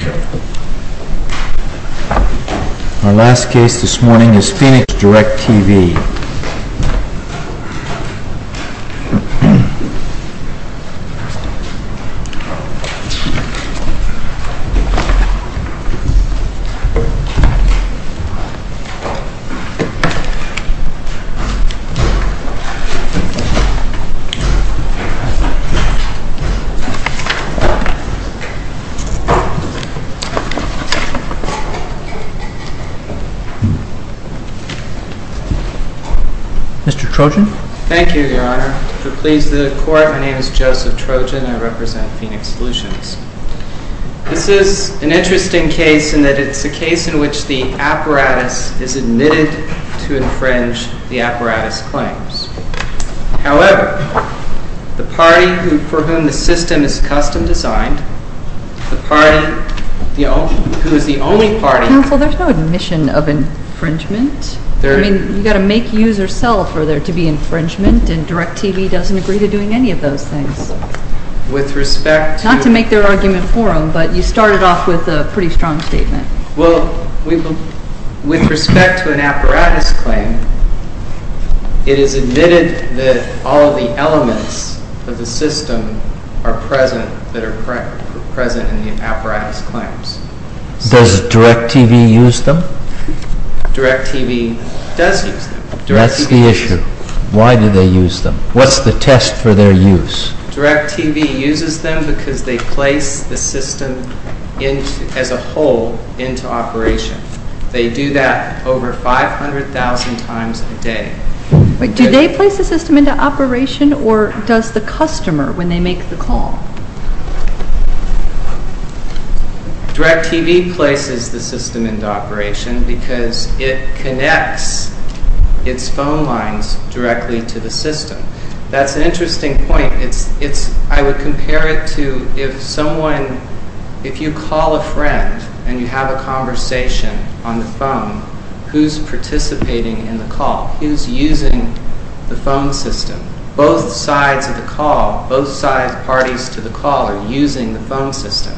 Our last case this morning is PHOENIX DIRECTV. This is an interesting case in that it is a case in which the apparatus is admitted to infringe the apparatus claims. However, the party for whom the system is custom designed, the party who is the only party... Counsel, there's no admission of infringement. I mean, you've got to make, use, or sell for there to be infringement, and DIRECTV doesn't agree to doing any of those things. With respect to... Not to make their argument for them, but you started off with a pretty strong statement. Well, with respect to an apparatus claim, it is admitted that all of the elements of the system are present, that are present in the apparatus claims. Does DIRECTV use them? DIRECTV does use them. That's the issue. Why do they use them? What's the test for their use? DIRECTV uses them because they place the system as a whole into operation. They do that over 500,000 times a day. Do they place the system into operation, or does the customer, when they make the call? DIRECTV places the system into operation because it connects its phone lines directly to the system. That's an interesting point. I would compare it to if someone... If you call a friend and you have a conversation on the phone, who's participating in the call? Who's using the phone system? Both sides of the call, both side parties to the call are using the phone system.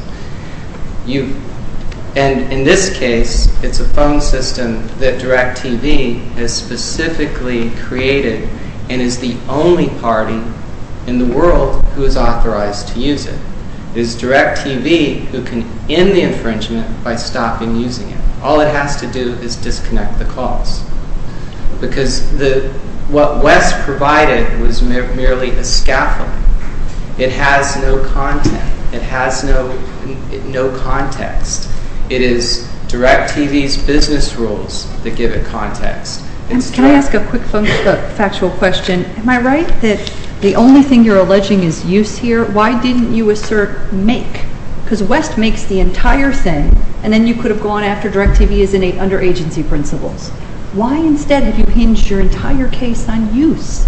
In this case, it's a phone system that DIRECTV has specifically created and is the only party in the world who is authorized to use it. It's DIRECTV who can end the infringement by stopping using it. All it has to do is disconnect the calls. Because what Wes provided was merely a scaffold. It has no content. It has no context. It is DIRECTV's business rules that give it context. Can I ask a quick factual question? Am I right that the only thing you're alleging is use here? Why didn't you assert make? Because Wes makes the entire thing, and then you could have gone after DIRECTV as under-agency principles. Why instead have you hinged your entire case on use?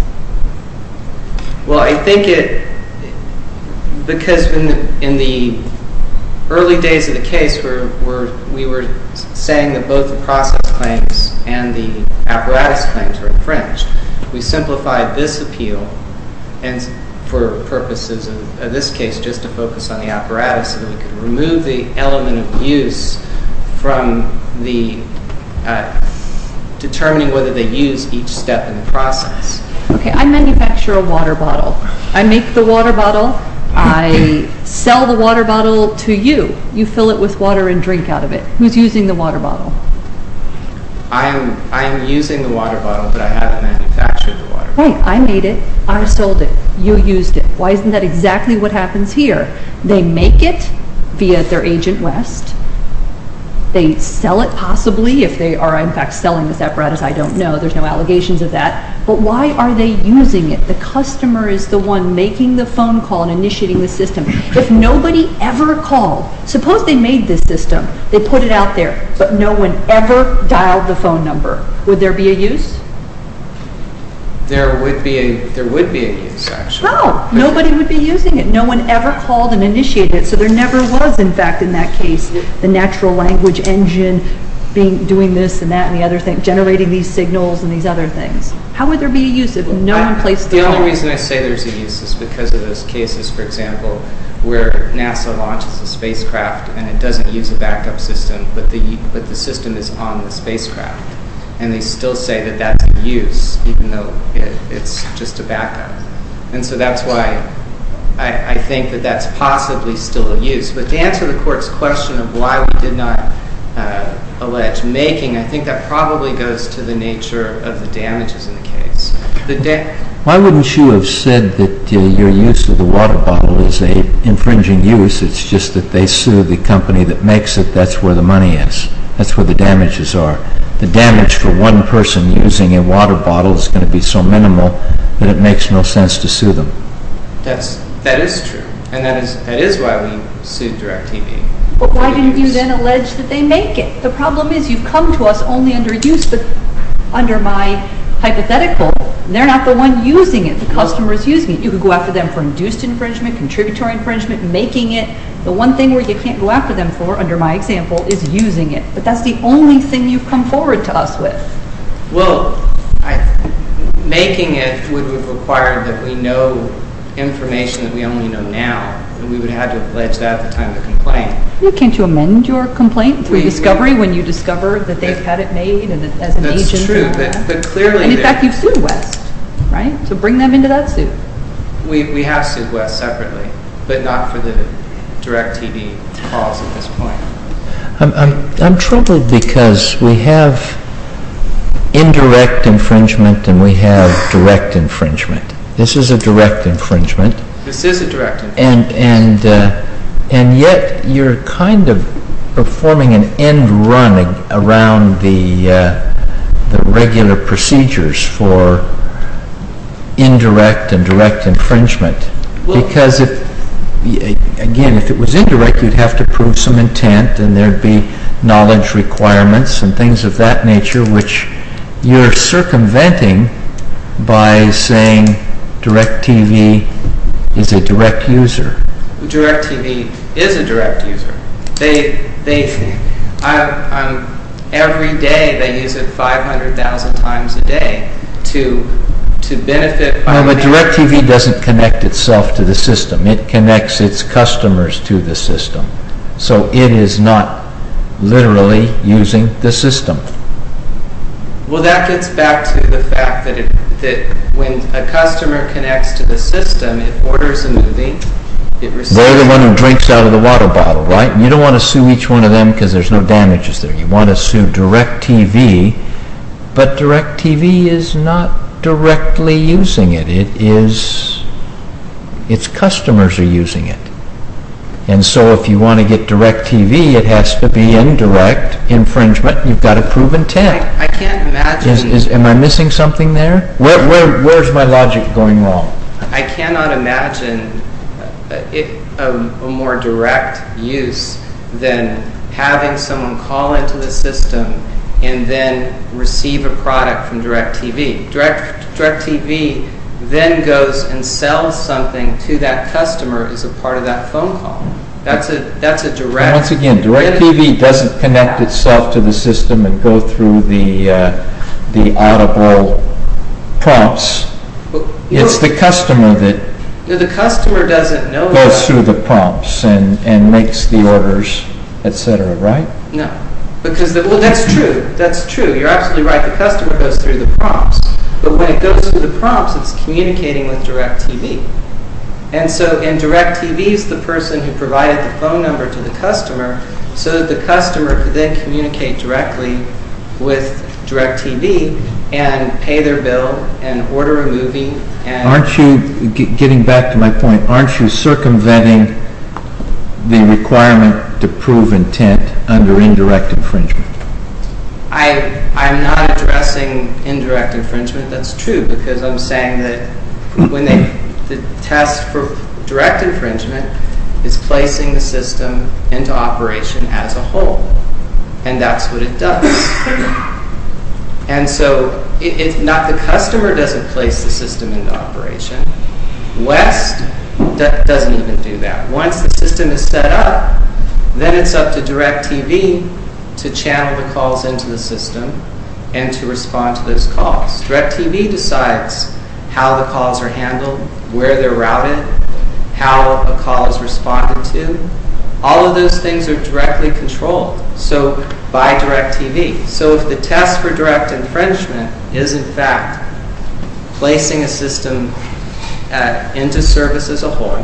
Well, I think because in the early days of the case, we were saying that both the process claims and the apparatus claims were infringed. We simplified this appeal for purposes of this case just to focus on the apparatus so that we could remove the element of use from determining whether they use each step in the process. Okay, I manufacture a water bottle. I make the water bottle. I sell the water bottle to you. You fill it with water and drink out of it. Who's using the water bottle? I am using the water bottle, but I haven't manufactured the water bottle. Wait, I made it. I sold it. You used it. Why isn't that exactly what happens here? They make it via their agent, Wes. They sell it, possibly, if they are in fact selling this apparatus. I don't know. There's no allegations of that. But why are they using it? The customer is the one making the phone call and initiating the system. If nobody ever called, suppose they made this system. They put it out there, but no one ever dialed the phone number. Would there be a use? There would be a use, actually. No, nobody would be using it. No one ever called and initiated it, so there never was, in fact, in that case, the natural language engine doing this and that and the other thing, generating these signals and these other things. How would there be a use if no one placed the phone? The only reason I say there's a use is because of those cases, for example, where NASA launches a spacecraft and it doesn't use a backup system, but the system is on the spacecraft. And they still say that that's in use, even though it's just a backup. And so that's why I think that that's possibly still a use. But to answer the Court's question of why we did not allege making, I think that probably goes to the nature of the damages in the case. Why wouldn't you have said that your use of the water bottle is an infringing use? It's just that they sue the company that makes it. That's where the money is. That's where the damages are. The damage for one person using a water bottle is going to be so minimal that it makes no sense to sue them. That is true. And that is why we sued DirecTV. But why didn't you then allege that they make it? The problem is you've come to us only under my hypothetical. They're not the one using it. The customer is using it. You could go after them for induced infringement, contributory infringement, making it. The one thing where you can't go after them for, under my example, is using it. But that's the only thing you've come forward to us with. Well, making it would require that we know information that we only know now, and we would have to allege that at the time of the complaint. Can't you amend your complaint through discovery when you discover that they've had it made as an agent? That's true. And, in fact, you've sued West, right? So bring them into that suit. We have sued West separately, but not for the DirecTV cause at this point. I'm troubled because we have indirect infringement and we have direct infringement. This is a direct infringement. This is a direct infringement. And yet you're kind of performing an end run around the regular procedures for indirect and direct infringement. Because, again, if it was indirect, you'd have to prove some intent and there'd be knowledge requirements and things of that nature, which you're circumventing by saying DirecTV is a direct user. DirecTV is a direct user. Every day they use it 500,000 times a day to benefit... But DirecTV doesn't connect itself to the system. It connects its customers to the system. So it is not literally using the system. Well, that gets back to the fact that when a customer connects to the system, it orders a movie, it receives... They're the one who drinks out of the water bottle, right? You don't want to sue each one of them because there's no damages there. You want to sue DirecTV, but DirecTV is not directly using it. Its customers are using it. And so if you want to get DirecTV, it has to be indirect infringement. You've got to prove intent. I can't imagine... Am I missing something there? Where's my logic going wrong? I cannot imagine a more direct use than having someone call into the system and then receive a product from DirecTV. DirecTV then goes and sells something to that customer as a part of that phone call. That's a direct... Once again, DirecTV doesn't connect itself to the system and go through the audible prompts. It's the customer that... The customer doesn't know... ...goes through the prompts and makes the orders, etc., right? No. Because... Well, that's true. That's true. You're absolutely right. The customer goes through the prompts. But when it goes through the prompts, it's communicating with DirecTV. And so, and DirecTV is the person who provided the phone number to the customer so that the customer could then communicate directly with DirecTV and pay their bill and order a movie and... Aren't you... Getting back to my point, aren't you circumventing the requirement to prove intent under indirect infringement? I'm not addressing indirect infringement. That's true because I'm saying that when they... The test for direct infringement is placing the system into operation as a whole. And that's what it does. And so, it's not... The customer doesn't place the system into operation. West doesn't even do that. Once the system is set up, then it's up to DirecTV to channel the calls into the system and to respond to those calls. DirecTV decides how the calls are handled, where they're routed, how a call is responded to. All of those things are directly controlled. So, by DirecTV. So, if the test for direct infringement is, in fact, placing a system into service as a whole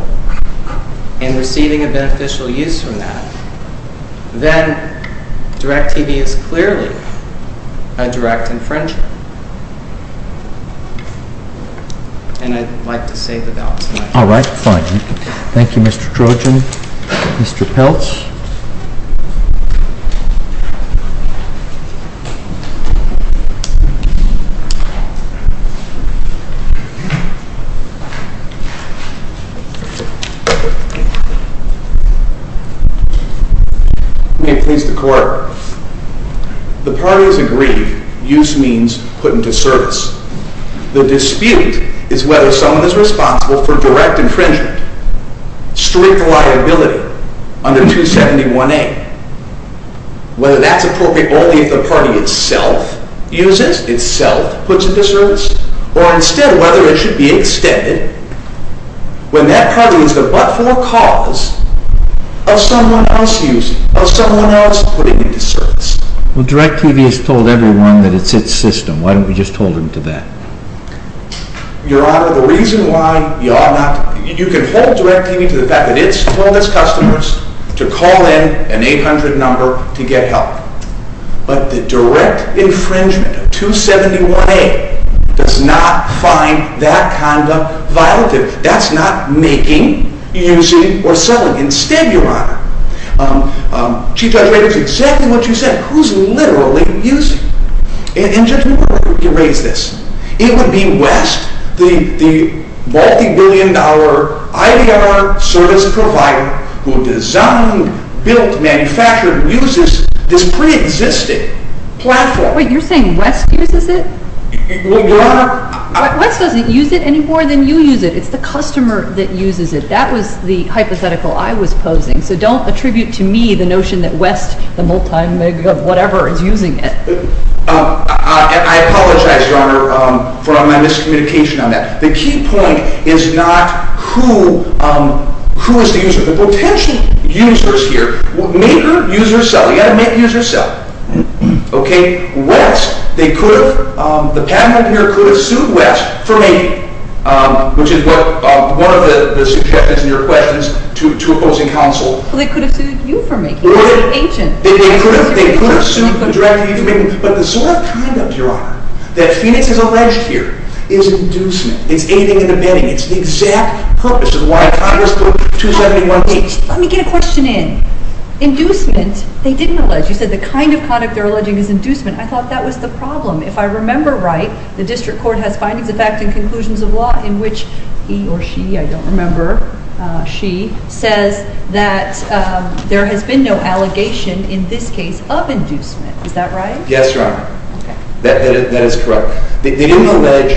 and receiving a beneficial use from that, then DirecTV is clearly a direct infringer. And I'd like to save the doubts. All right, fine. Thank you, Mr. Trojan. Mr. Peltz. Thank you. May it please the Court. The parties agree, use means put into service. The dispute is whether someone is responsible for direct infringement, strict liability under 271A. Whether that's appropriate only if the party itself uses, itself puts it into service, or instead whether it should be extended when that party is the but-for cause of someone else using, of someone else putting it into service. Well, DirecTV has told everyone that it's its system. Why don't we just hold them to that? Your Honor, the reason why y'all not... You can hold DirecTV to the fact that it's told its customers to call in an 800 number to get help. But the direct infringement of 271A does not find that conduct violative. That's not making, using, or selling. Instead, Your Honor, Chief Judge Rader, it's exactly what you said. Who's literally using? In just a moment, I'm going to erase this. It would be West, the multi-billion dollar IDR service provider who designed, built, manufactured, uses this pre-existing platform. Wait, you're saying West uses it? Well, Your Honor... West doesn't use it any more than you use it. It's the customer that uses it. That was the hypothetical I was posing. So don't attribute to me the notion that West, the multi-million dollar, whatever, is using it. I apologize, Your Honor, for my miscommunication on that. The key point is not who is the user. The potential user is here. Maker, user, seller. You've got to make, use, or sell. Okay? West, they could have... The panel here could have sued West for making, which is one of the suggestions in your questions to opposing counsel. Well, they could have sued you for making. They could have sued you for making. But the sort of conduct, Your Honor, that Phoenix has alleged here is inducement. It's aiding and abetting. It's the exact purpose of why Congress put 271C... Let me get a question in. Inducement? They didn't allege. You said the kind of conduct they're alleging is inducement. I thought that was the problem. If I remember right, the district court has findings of fact and conclusions of law in which he or she, I don't remember, she, says that there has been no allegation in this case of inducement. Is that right? Yes, Your Honor. Okay. That is correct. They didn't allege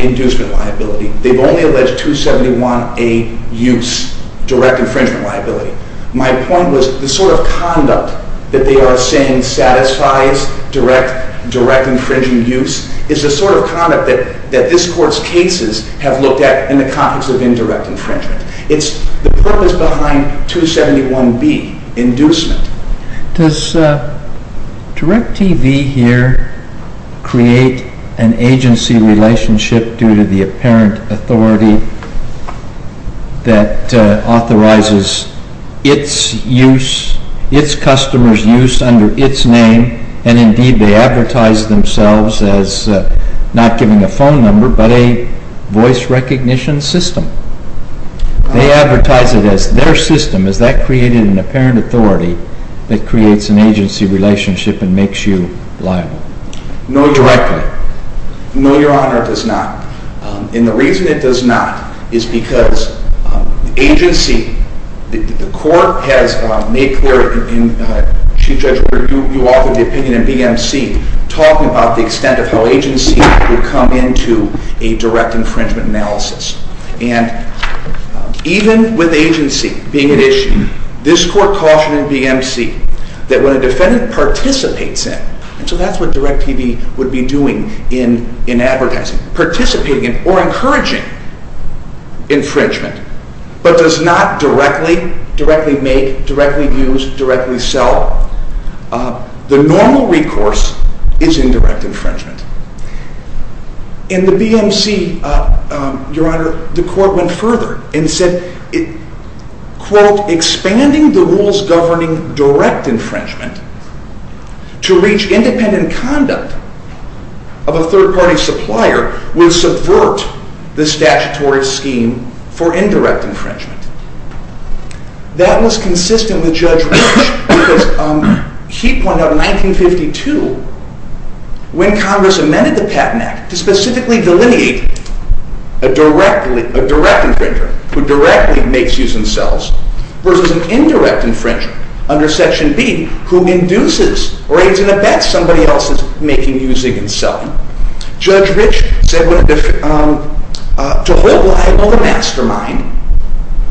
inducement liability. They've only alleged 271A use, direct infringement liability. My point was the sort of conduct that they are saying satisfies direct infringing use is the sort of conduct that this Court's cases have looked at in the context of indirect infringement. It's the purpose behind 271B, inducement. Does DIRECTV here create an agency relationship due to the apparent authority that authorizes its use, its customers' use under its name, and indeed they advertise themselves as not giving a phone number but a voice recognition system? They advertise it as their system. Is that creating an apparent authority that creates an agency relationship and makes you liable? No, directly. No, Your Honor, it does not. And the reason it does not is because the agency, the Court has made clear, Chief Judge, you authored the opinion in BMC talking about the extent of how agency would come into a direct infringement analysis. And even with agency being an issue, this Court cautioned in BMC that when a defendant participates in, and so that's what DIRECTV would be doing in advertising, participating in or encouraging infringement, but does not directly, directly make, directly use, directly sell, the normal recourse is indirect infringement. In the BMC, Your Honor, the Court went further and said, quote, expanding the rules governing direct infringement to reach independent conduct of a third-party supplier would subvert the statutory scheme for indirect infringement. That was consistent with Judge Rich because he pointed out in 1952 when Congress amended the Patent Act to specifically delineate a direct infringer who directly makes, uses, and sells versus an indirect infringer under Section B who induces or aids in a bet somebody else is making, using, and selling. Judge Rich said to hold liable the mastermind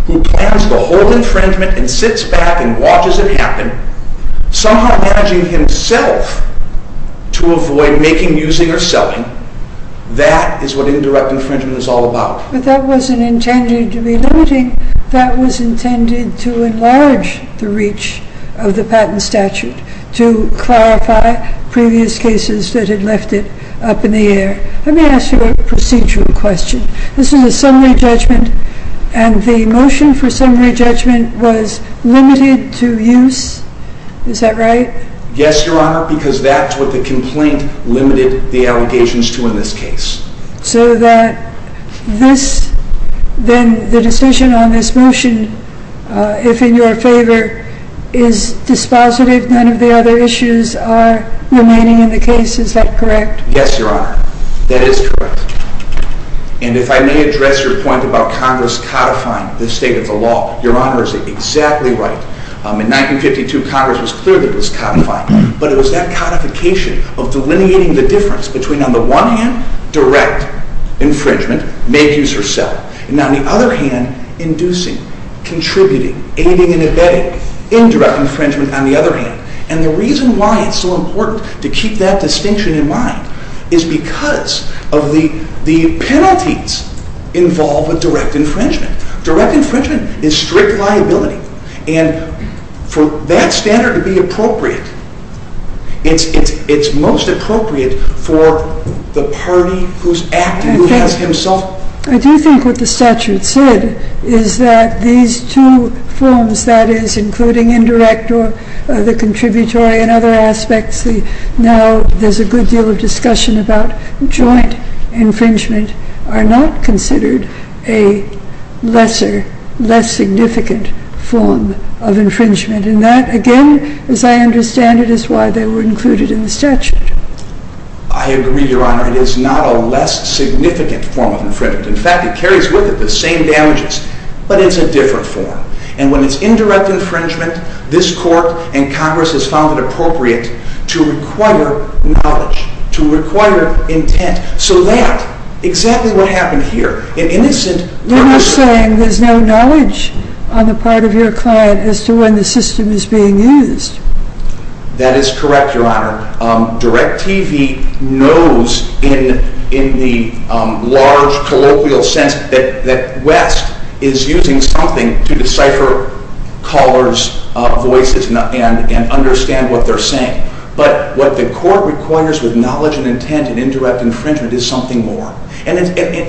who plans the whole infringement and sits back and watches it happen, somehow managing himself to avoid making, using, or selling. That is what indirect infringement is all about. But that wasn't intended to be limiting. That was intended to enlarge the reach of the patent statute, to clarify previous cases that had left it up in the air. Let me ask you a procedural question. This is a summary judgment, and the motion for summary judgment was limited to use. Is that right? Yes, Your Honor, because that's what the complaint limited the allegations to in this case. So then the decision on this motion, if in your favor, is dispositive. None of the other issues are remaining in the case. Is that correct? Yes, Your Honor. That is correct. And if I may address your point about Congress codifying the state of the law, Your Honor is exactly right. In 1952, Congress was clear that it was codifying. But it was that codification of delineating the difference between, on the one hand, direct infringement, make, use, or sell, and on the other hand, inducing, contributing, aiding, and abetting indirect infringement, on the other hand. And the reason why it's so important to keep that distinction in mind is because of the penalties involved with direct infringement. Direct infringement is strict liability. And for that standard to be appropriate, it's most appropriate for the party who's acting, who has himself... I do think what the statute said is that these two forms, that is, including indirect or the contributory and other aspects, now there's a good deal of discussion about joint infringement, are not considered a lesser, less significant form of infringement. And that, again, as I understand it, is why they were included in the statute. I agree, Your Honor. It is not a less significant form of infringement. In fact, it carries with it the same damages. But it's a different form. And when it's indirect infringement, this Court and Congress has found it appropriate to require knowledge, to require intent. So that, exactly what happened here, in this instance... You're not saying there's no knowledge on the part of your client as to when the system is being used? That is correct, Your Honor. DIRECTV knows in the large, colloquial sense that West is using something to decipher callers' voices and understand what they're saying. But what the Court requires with knowledge and intent in indirect infringement is something more. And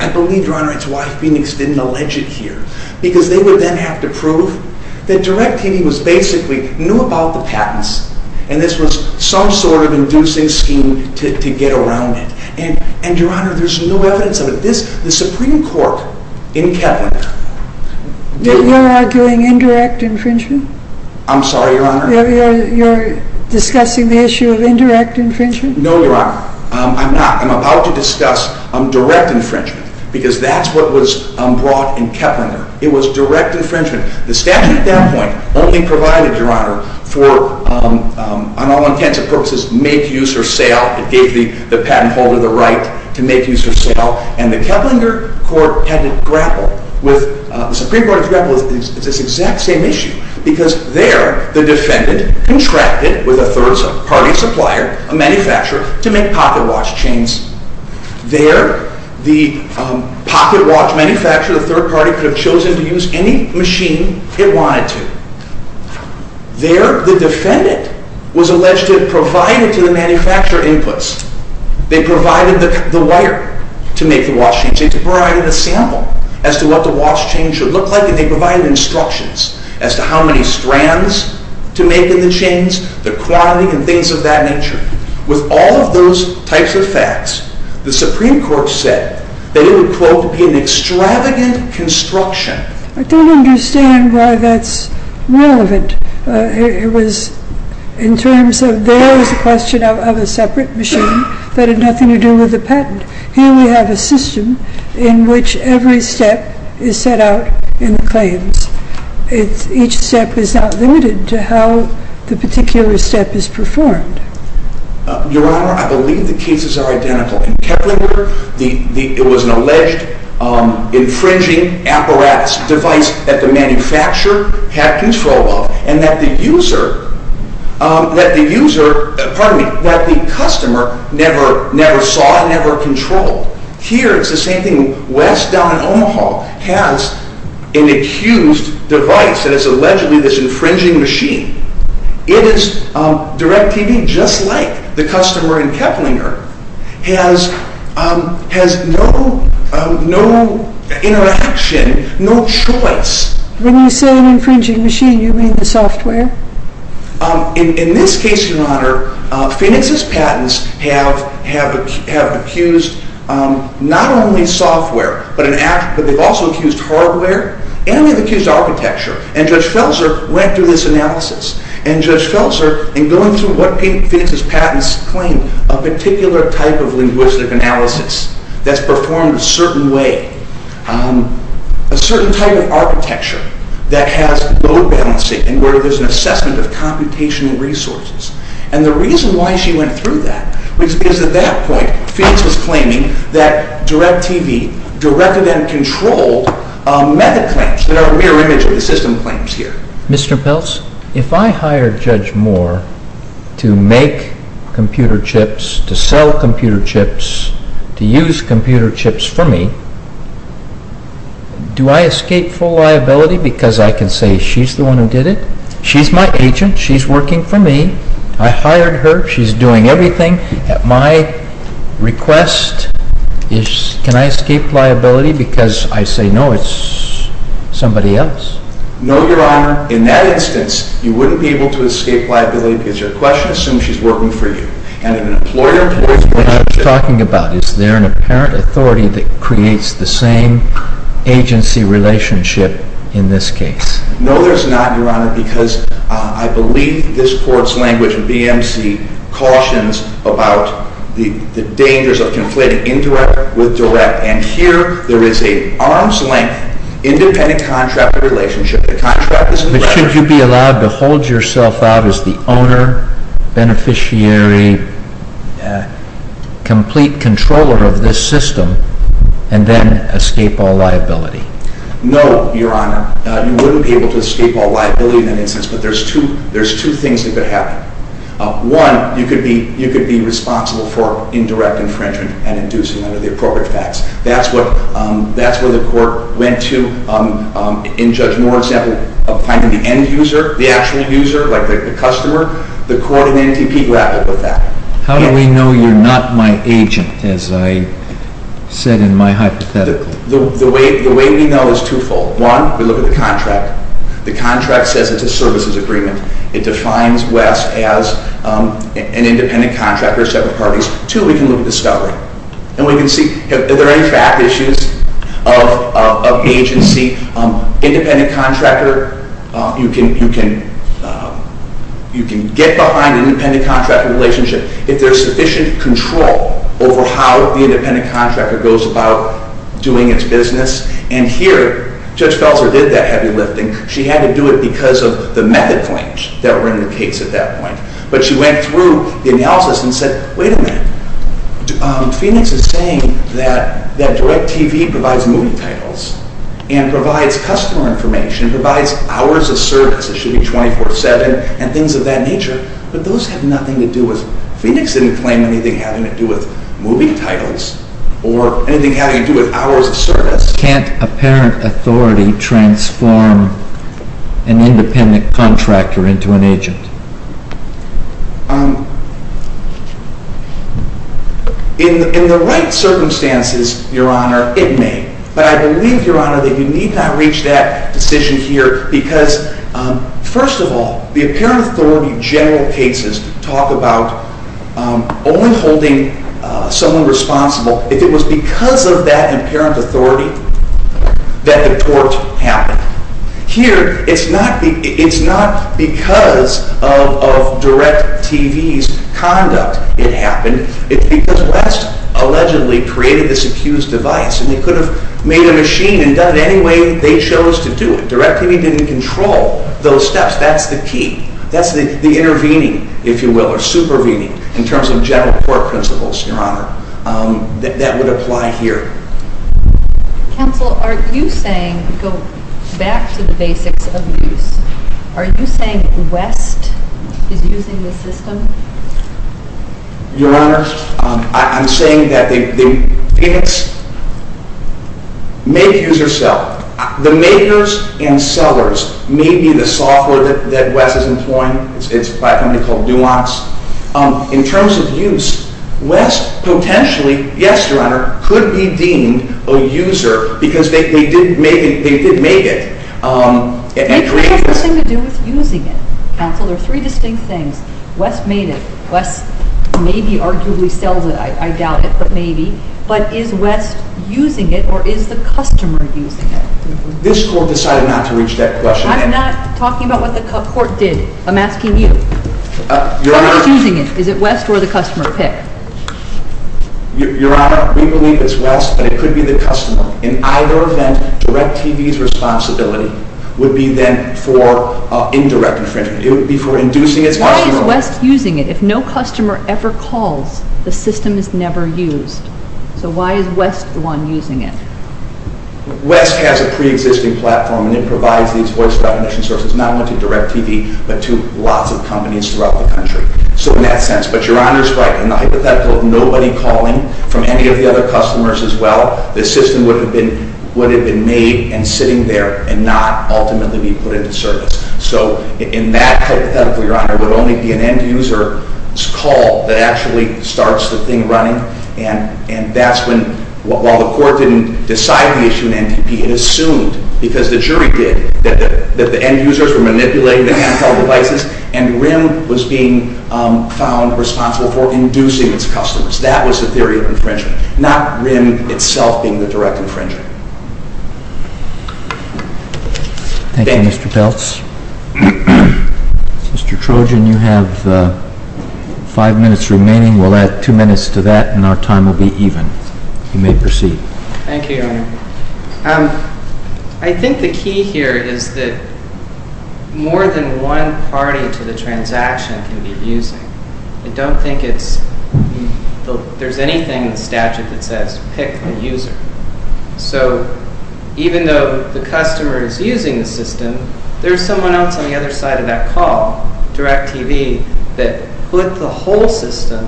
I believe, Your Honor, it's why Phoenix didn't allege it here. Because they would then have to prove that DIRECTV basically knew about the patents. And this was some sort of inducing scheme to get around it. And, Your Honor, there's no evidence of it. The Supreme Court in Keplinger... You're arguing indirect infringement? I'm sorry, Your Honor? You're discussing the issue of indirect infringement? No, Your Honor. I'm not. I'm about to discuss direct infringement. Because that's what was brought in Keplinger. It was direct infringement. The statute at that point only provided, Your Honor, for, on all intents and purposes, make-use-or-sale. It gave the patent holder the right to make-use-or-sale. And the Keplinger Court had to grapple with... The Supreme Court had to grapple with this exact same issue. Because there, the defendant contracted with a third-party supplier, a manufacturer, to make pocket watch chains. There, the pocket watch manufacturer, the third-party, could have chosen to use any machine it wanted to. There, the defendant was alleged to have provided to the manufacturer inputs. They provided the wire to make the watch chains. They provided a sample as to what the watch chain should look like. And they provided instructions as to how many strands to make in the chains, the quantity, and things of that nature. With all of those types of facts, the Supreme Court said that it would, quote, be an extravagant construction. I don't understand why that's relevant. It was in terms of there was a question of a separate machine that had nothing to do with the patent. Here we have a system in which every step is set out in the claims. Each step is not limited to how the particular step is performed. Your Honor, I believe the cases are identical. In Keplinger, it was an alleged infringing apparatus, a device that the manufacturer had control of, and that the customer never saw and never controlled. Here, it's the same thing. West, down in Omaha, has an accused device that is allegedly this infringing machine. It is DirecTV, just like the customer in Keplinger, has no interaction, no choice. When you say an infringing machine, you mean the software? In this case, Your Honor, Phoenix's patents have accused not only software, but they've also accused hardware, and they've accused architecture. And Judge Felser went through this analysis. And Judge Felser, in going through what Phoenix's patents claim, a particular type of linguistic analysis that's performed a certain way, a certain type of architecture that has load balancing, where there's an assessment of computational resources. And the reason why she went through that was because at that point, Phoenix was claiming that DirecTV directed and controlled method claims that are a mirror image of the system claims here. Mr. Peltz, if I hired Judge Moore to make computer chips, to sell computer chips, to use computer chips for me, do I escape full liability because I can say she's the one who did it? She's my agent. She's working for me. I hired her. She's doing everything. At my request, can I escape liability because I say, no, it's somebody else? No, Your Honor. In that instance, you wouldn't be able to escape liability because your question assumes she's working for you. What I'm talking about, is there an apparent authority that creates the same agency relationship in this case? No, there's not, Your Honor, because I believe this court's language, BMC, cautions about the dangers of conflating indirect with direct. And here, there is an arm's length independent contract relationship. But should you be allowed to hold yourself out as the owner, beneficiary, complete controller of this system, and then escape all liability? No, Your Honor. You wouldn't be able to escape all liability in that instance, but there's two things that could happen. One, you could be responsible for indirect infringement and inducing under the appropriate facts. That's where the court went to, in Judge Moore's example, of finding the end user, the actual user, like the customer. The court in NTP grappled with that. How do we know you're not my agent, as I said in my hypothetical? The way we know is twofold. One, we look at the contract. The contract says it's a services agreement. It defines West as an independent contractor, separate parties. Two, we can look at discovery. And we can see, are there any fact issues of agency? Independent contractor, you can get behind an independent contractor relationship if there's sufficient control over how the independent contractor goes about doing its business. And here, Judge Felser did that heavy lifting. She had to do it because of the method claims that were in the case at that point. But she went through the analysis and said, wait a minute. Phoenix is saying that DirecTV provides movie titles and provides customer information, provides hours of service. It should be 24-7 and things of that nature. But those have nothing to do with Phoenix didn't claim anything having to do with movie titles or anything having to do with hours of service. Can't apparent authority transform an independent contractor into an agent? In the right circumstances, Your Honor, it may. But I believe, Your Honor, that you need not reach that decision here because, first of all, the apparent authority general cases talk about only holding someone responsible. If it was because of that apparent authority that the court happened. Here, it's not because of DirecTV's conduct it happened. It's because West allegedly created this accused device, and they could have made a machine and done it any way they chose to do it. DirecTV didn't control those steps. That's the key. That's the intervening, if you will, or supervening in terms of general court principles, Your Honor, that would apply here. Counsel, are you saying, go back to the basics of use, are you saying West is using the system? Your Honor, I'm saying that Phoenix may be user cell. The makers and sellers may be the software that West is employing. It's by a company called Duance. In terms of use, West potentially, yes, Your Honor, could be deemed a user because they did make it. It has nothing to do with using it. Counsel, there are three distinct things. West made it. West maybe arguably sells it. I doubt it, but maybe. But is West using it, or is the customer using it? This court decided not to reach that question. I'm not talking about what the court did. I'm asking you. Why is it using it? Is it West or the customer pick? Your Honor, we believe it's West, but it could be the customer. In either event, DirecTV's responsibility would be then for indirect infringement. It would be for inducing its customer. Why is West using it? If no customer ever calls, the system is never used. So why is West the one using it? West has a preexisting platform, and it provides these voice recognition services not only to DirecTV, but to lots of companies throughout the country. So in that sense. But Your Honor is right. In the hypothetical of nobody calling from any of the other customers as well, the system would have been made and sitting there and not ultimately be put into service. So in that hypothetical, Your Honor, it would only be an end-user's call that actually starts the thing running. And that's when, while the court didn't decide to issue an NTP, it assumed, because the jury did, that the end-users were manipulating the handheld devices and RIM was being found responsible for inducing its customers. That was the theory of infringement, not RIM itself being the direct infringer. Thank you, Mr. Peltz. Mr. Trojan, you have five minutes remaining. We'll add two minutes to that, and our time will be even. You may proceed. Thank you, Your Honor. I think the key here is that more than one party to the transaction can be abusing. I don't think there's anything in the statute that says pick the user. So even though the customer is using the system, there's someone else on the other side of that call, DirecTV, that put the whole system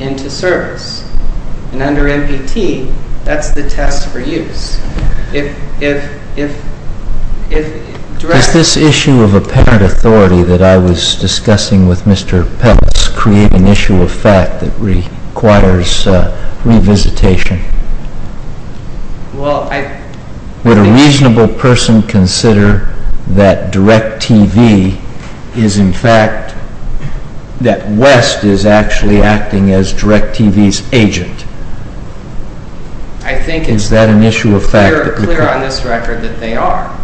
into service. And under NPT, that's the test for use. Does this issue of apparent authority that I was discussing with Mr. Peltz create an issue of fact that requires revisitation? Would a reasonable person consider that DirecTV is, in fact, that West is actually acting as DirecTV's agent? Is that an issue of fact? I think it's clear on this record that they are,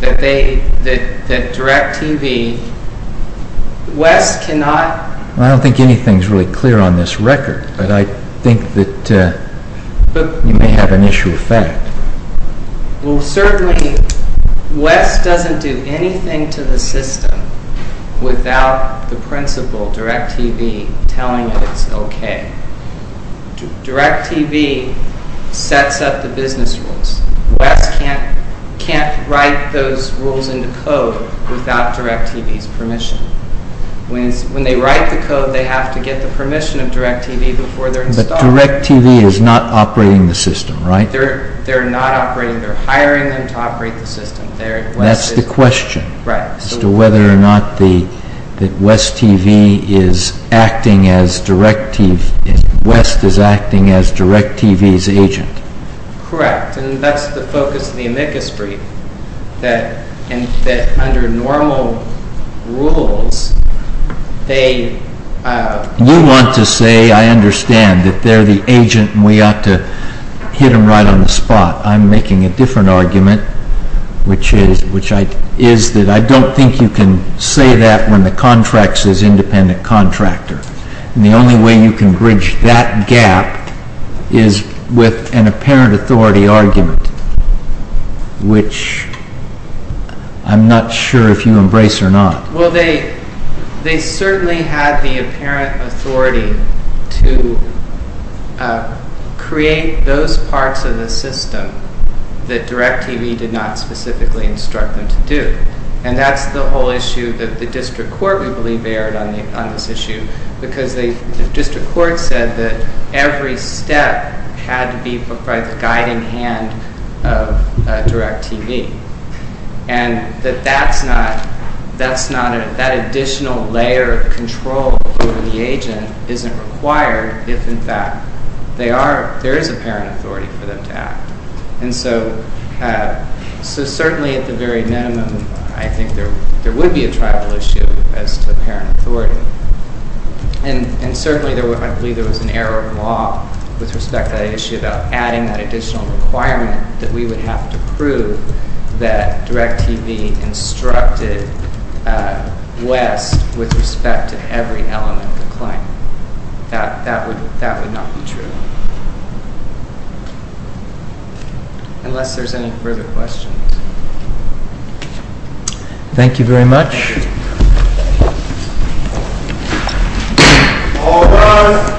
that DirecTV—West cannot— I don't think anything's really clear on this record, but I think that you may have an issue of fact. Well, certainly, West doesn't do anything to the system without the principal, DirecTV, telling it it's okay. DirecTV sets up the business rules. West can't write those rules into code without DirecTV's permission. When they write the code, they have to get the permission of DirecTV before they're installed. But DirecTV is not operating the system, right? They're not operating—they're hiring them to operate the system. That's the question, as to whether or not that West is acting as DirecTV's agent. Correct, and that's the focus of the amicus brief, that under normal rules, they— You want to say, I understand, that they're the agent and we ought to hit them right on the spot. I'm making a different argument, which is that I don't think you can say that when the contract says independent contractor. And the only way you can bridge that gap is with an apparent authority argument, which I'm not sure if you embrace or not. Well, they certainly had the apparent authority to create those parts of the system that DirecTV did not specifically instruct them to do. And that's the whole issue that the district court, we believe, erred on this issue, because the district court said that every step had to be put by the guiding hand of DirecTV. And that that additional layer of control over the agent isn't required if, in fact, there is apparent authority for them to act. And so certainly, at the very minimum, I think there would be a tribal issue as to apparent authority. And certainly, I believe there was an error of law with respect to that issue that we would have to prove that DirecTV instructed West with respect to every element of the claim. That would not be true. Unless there's any further questions. Thank you very much. All rise.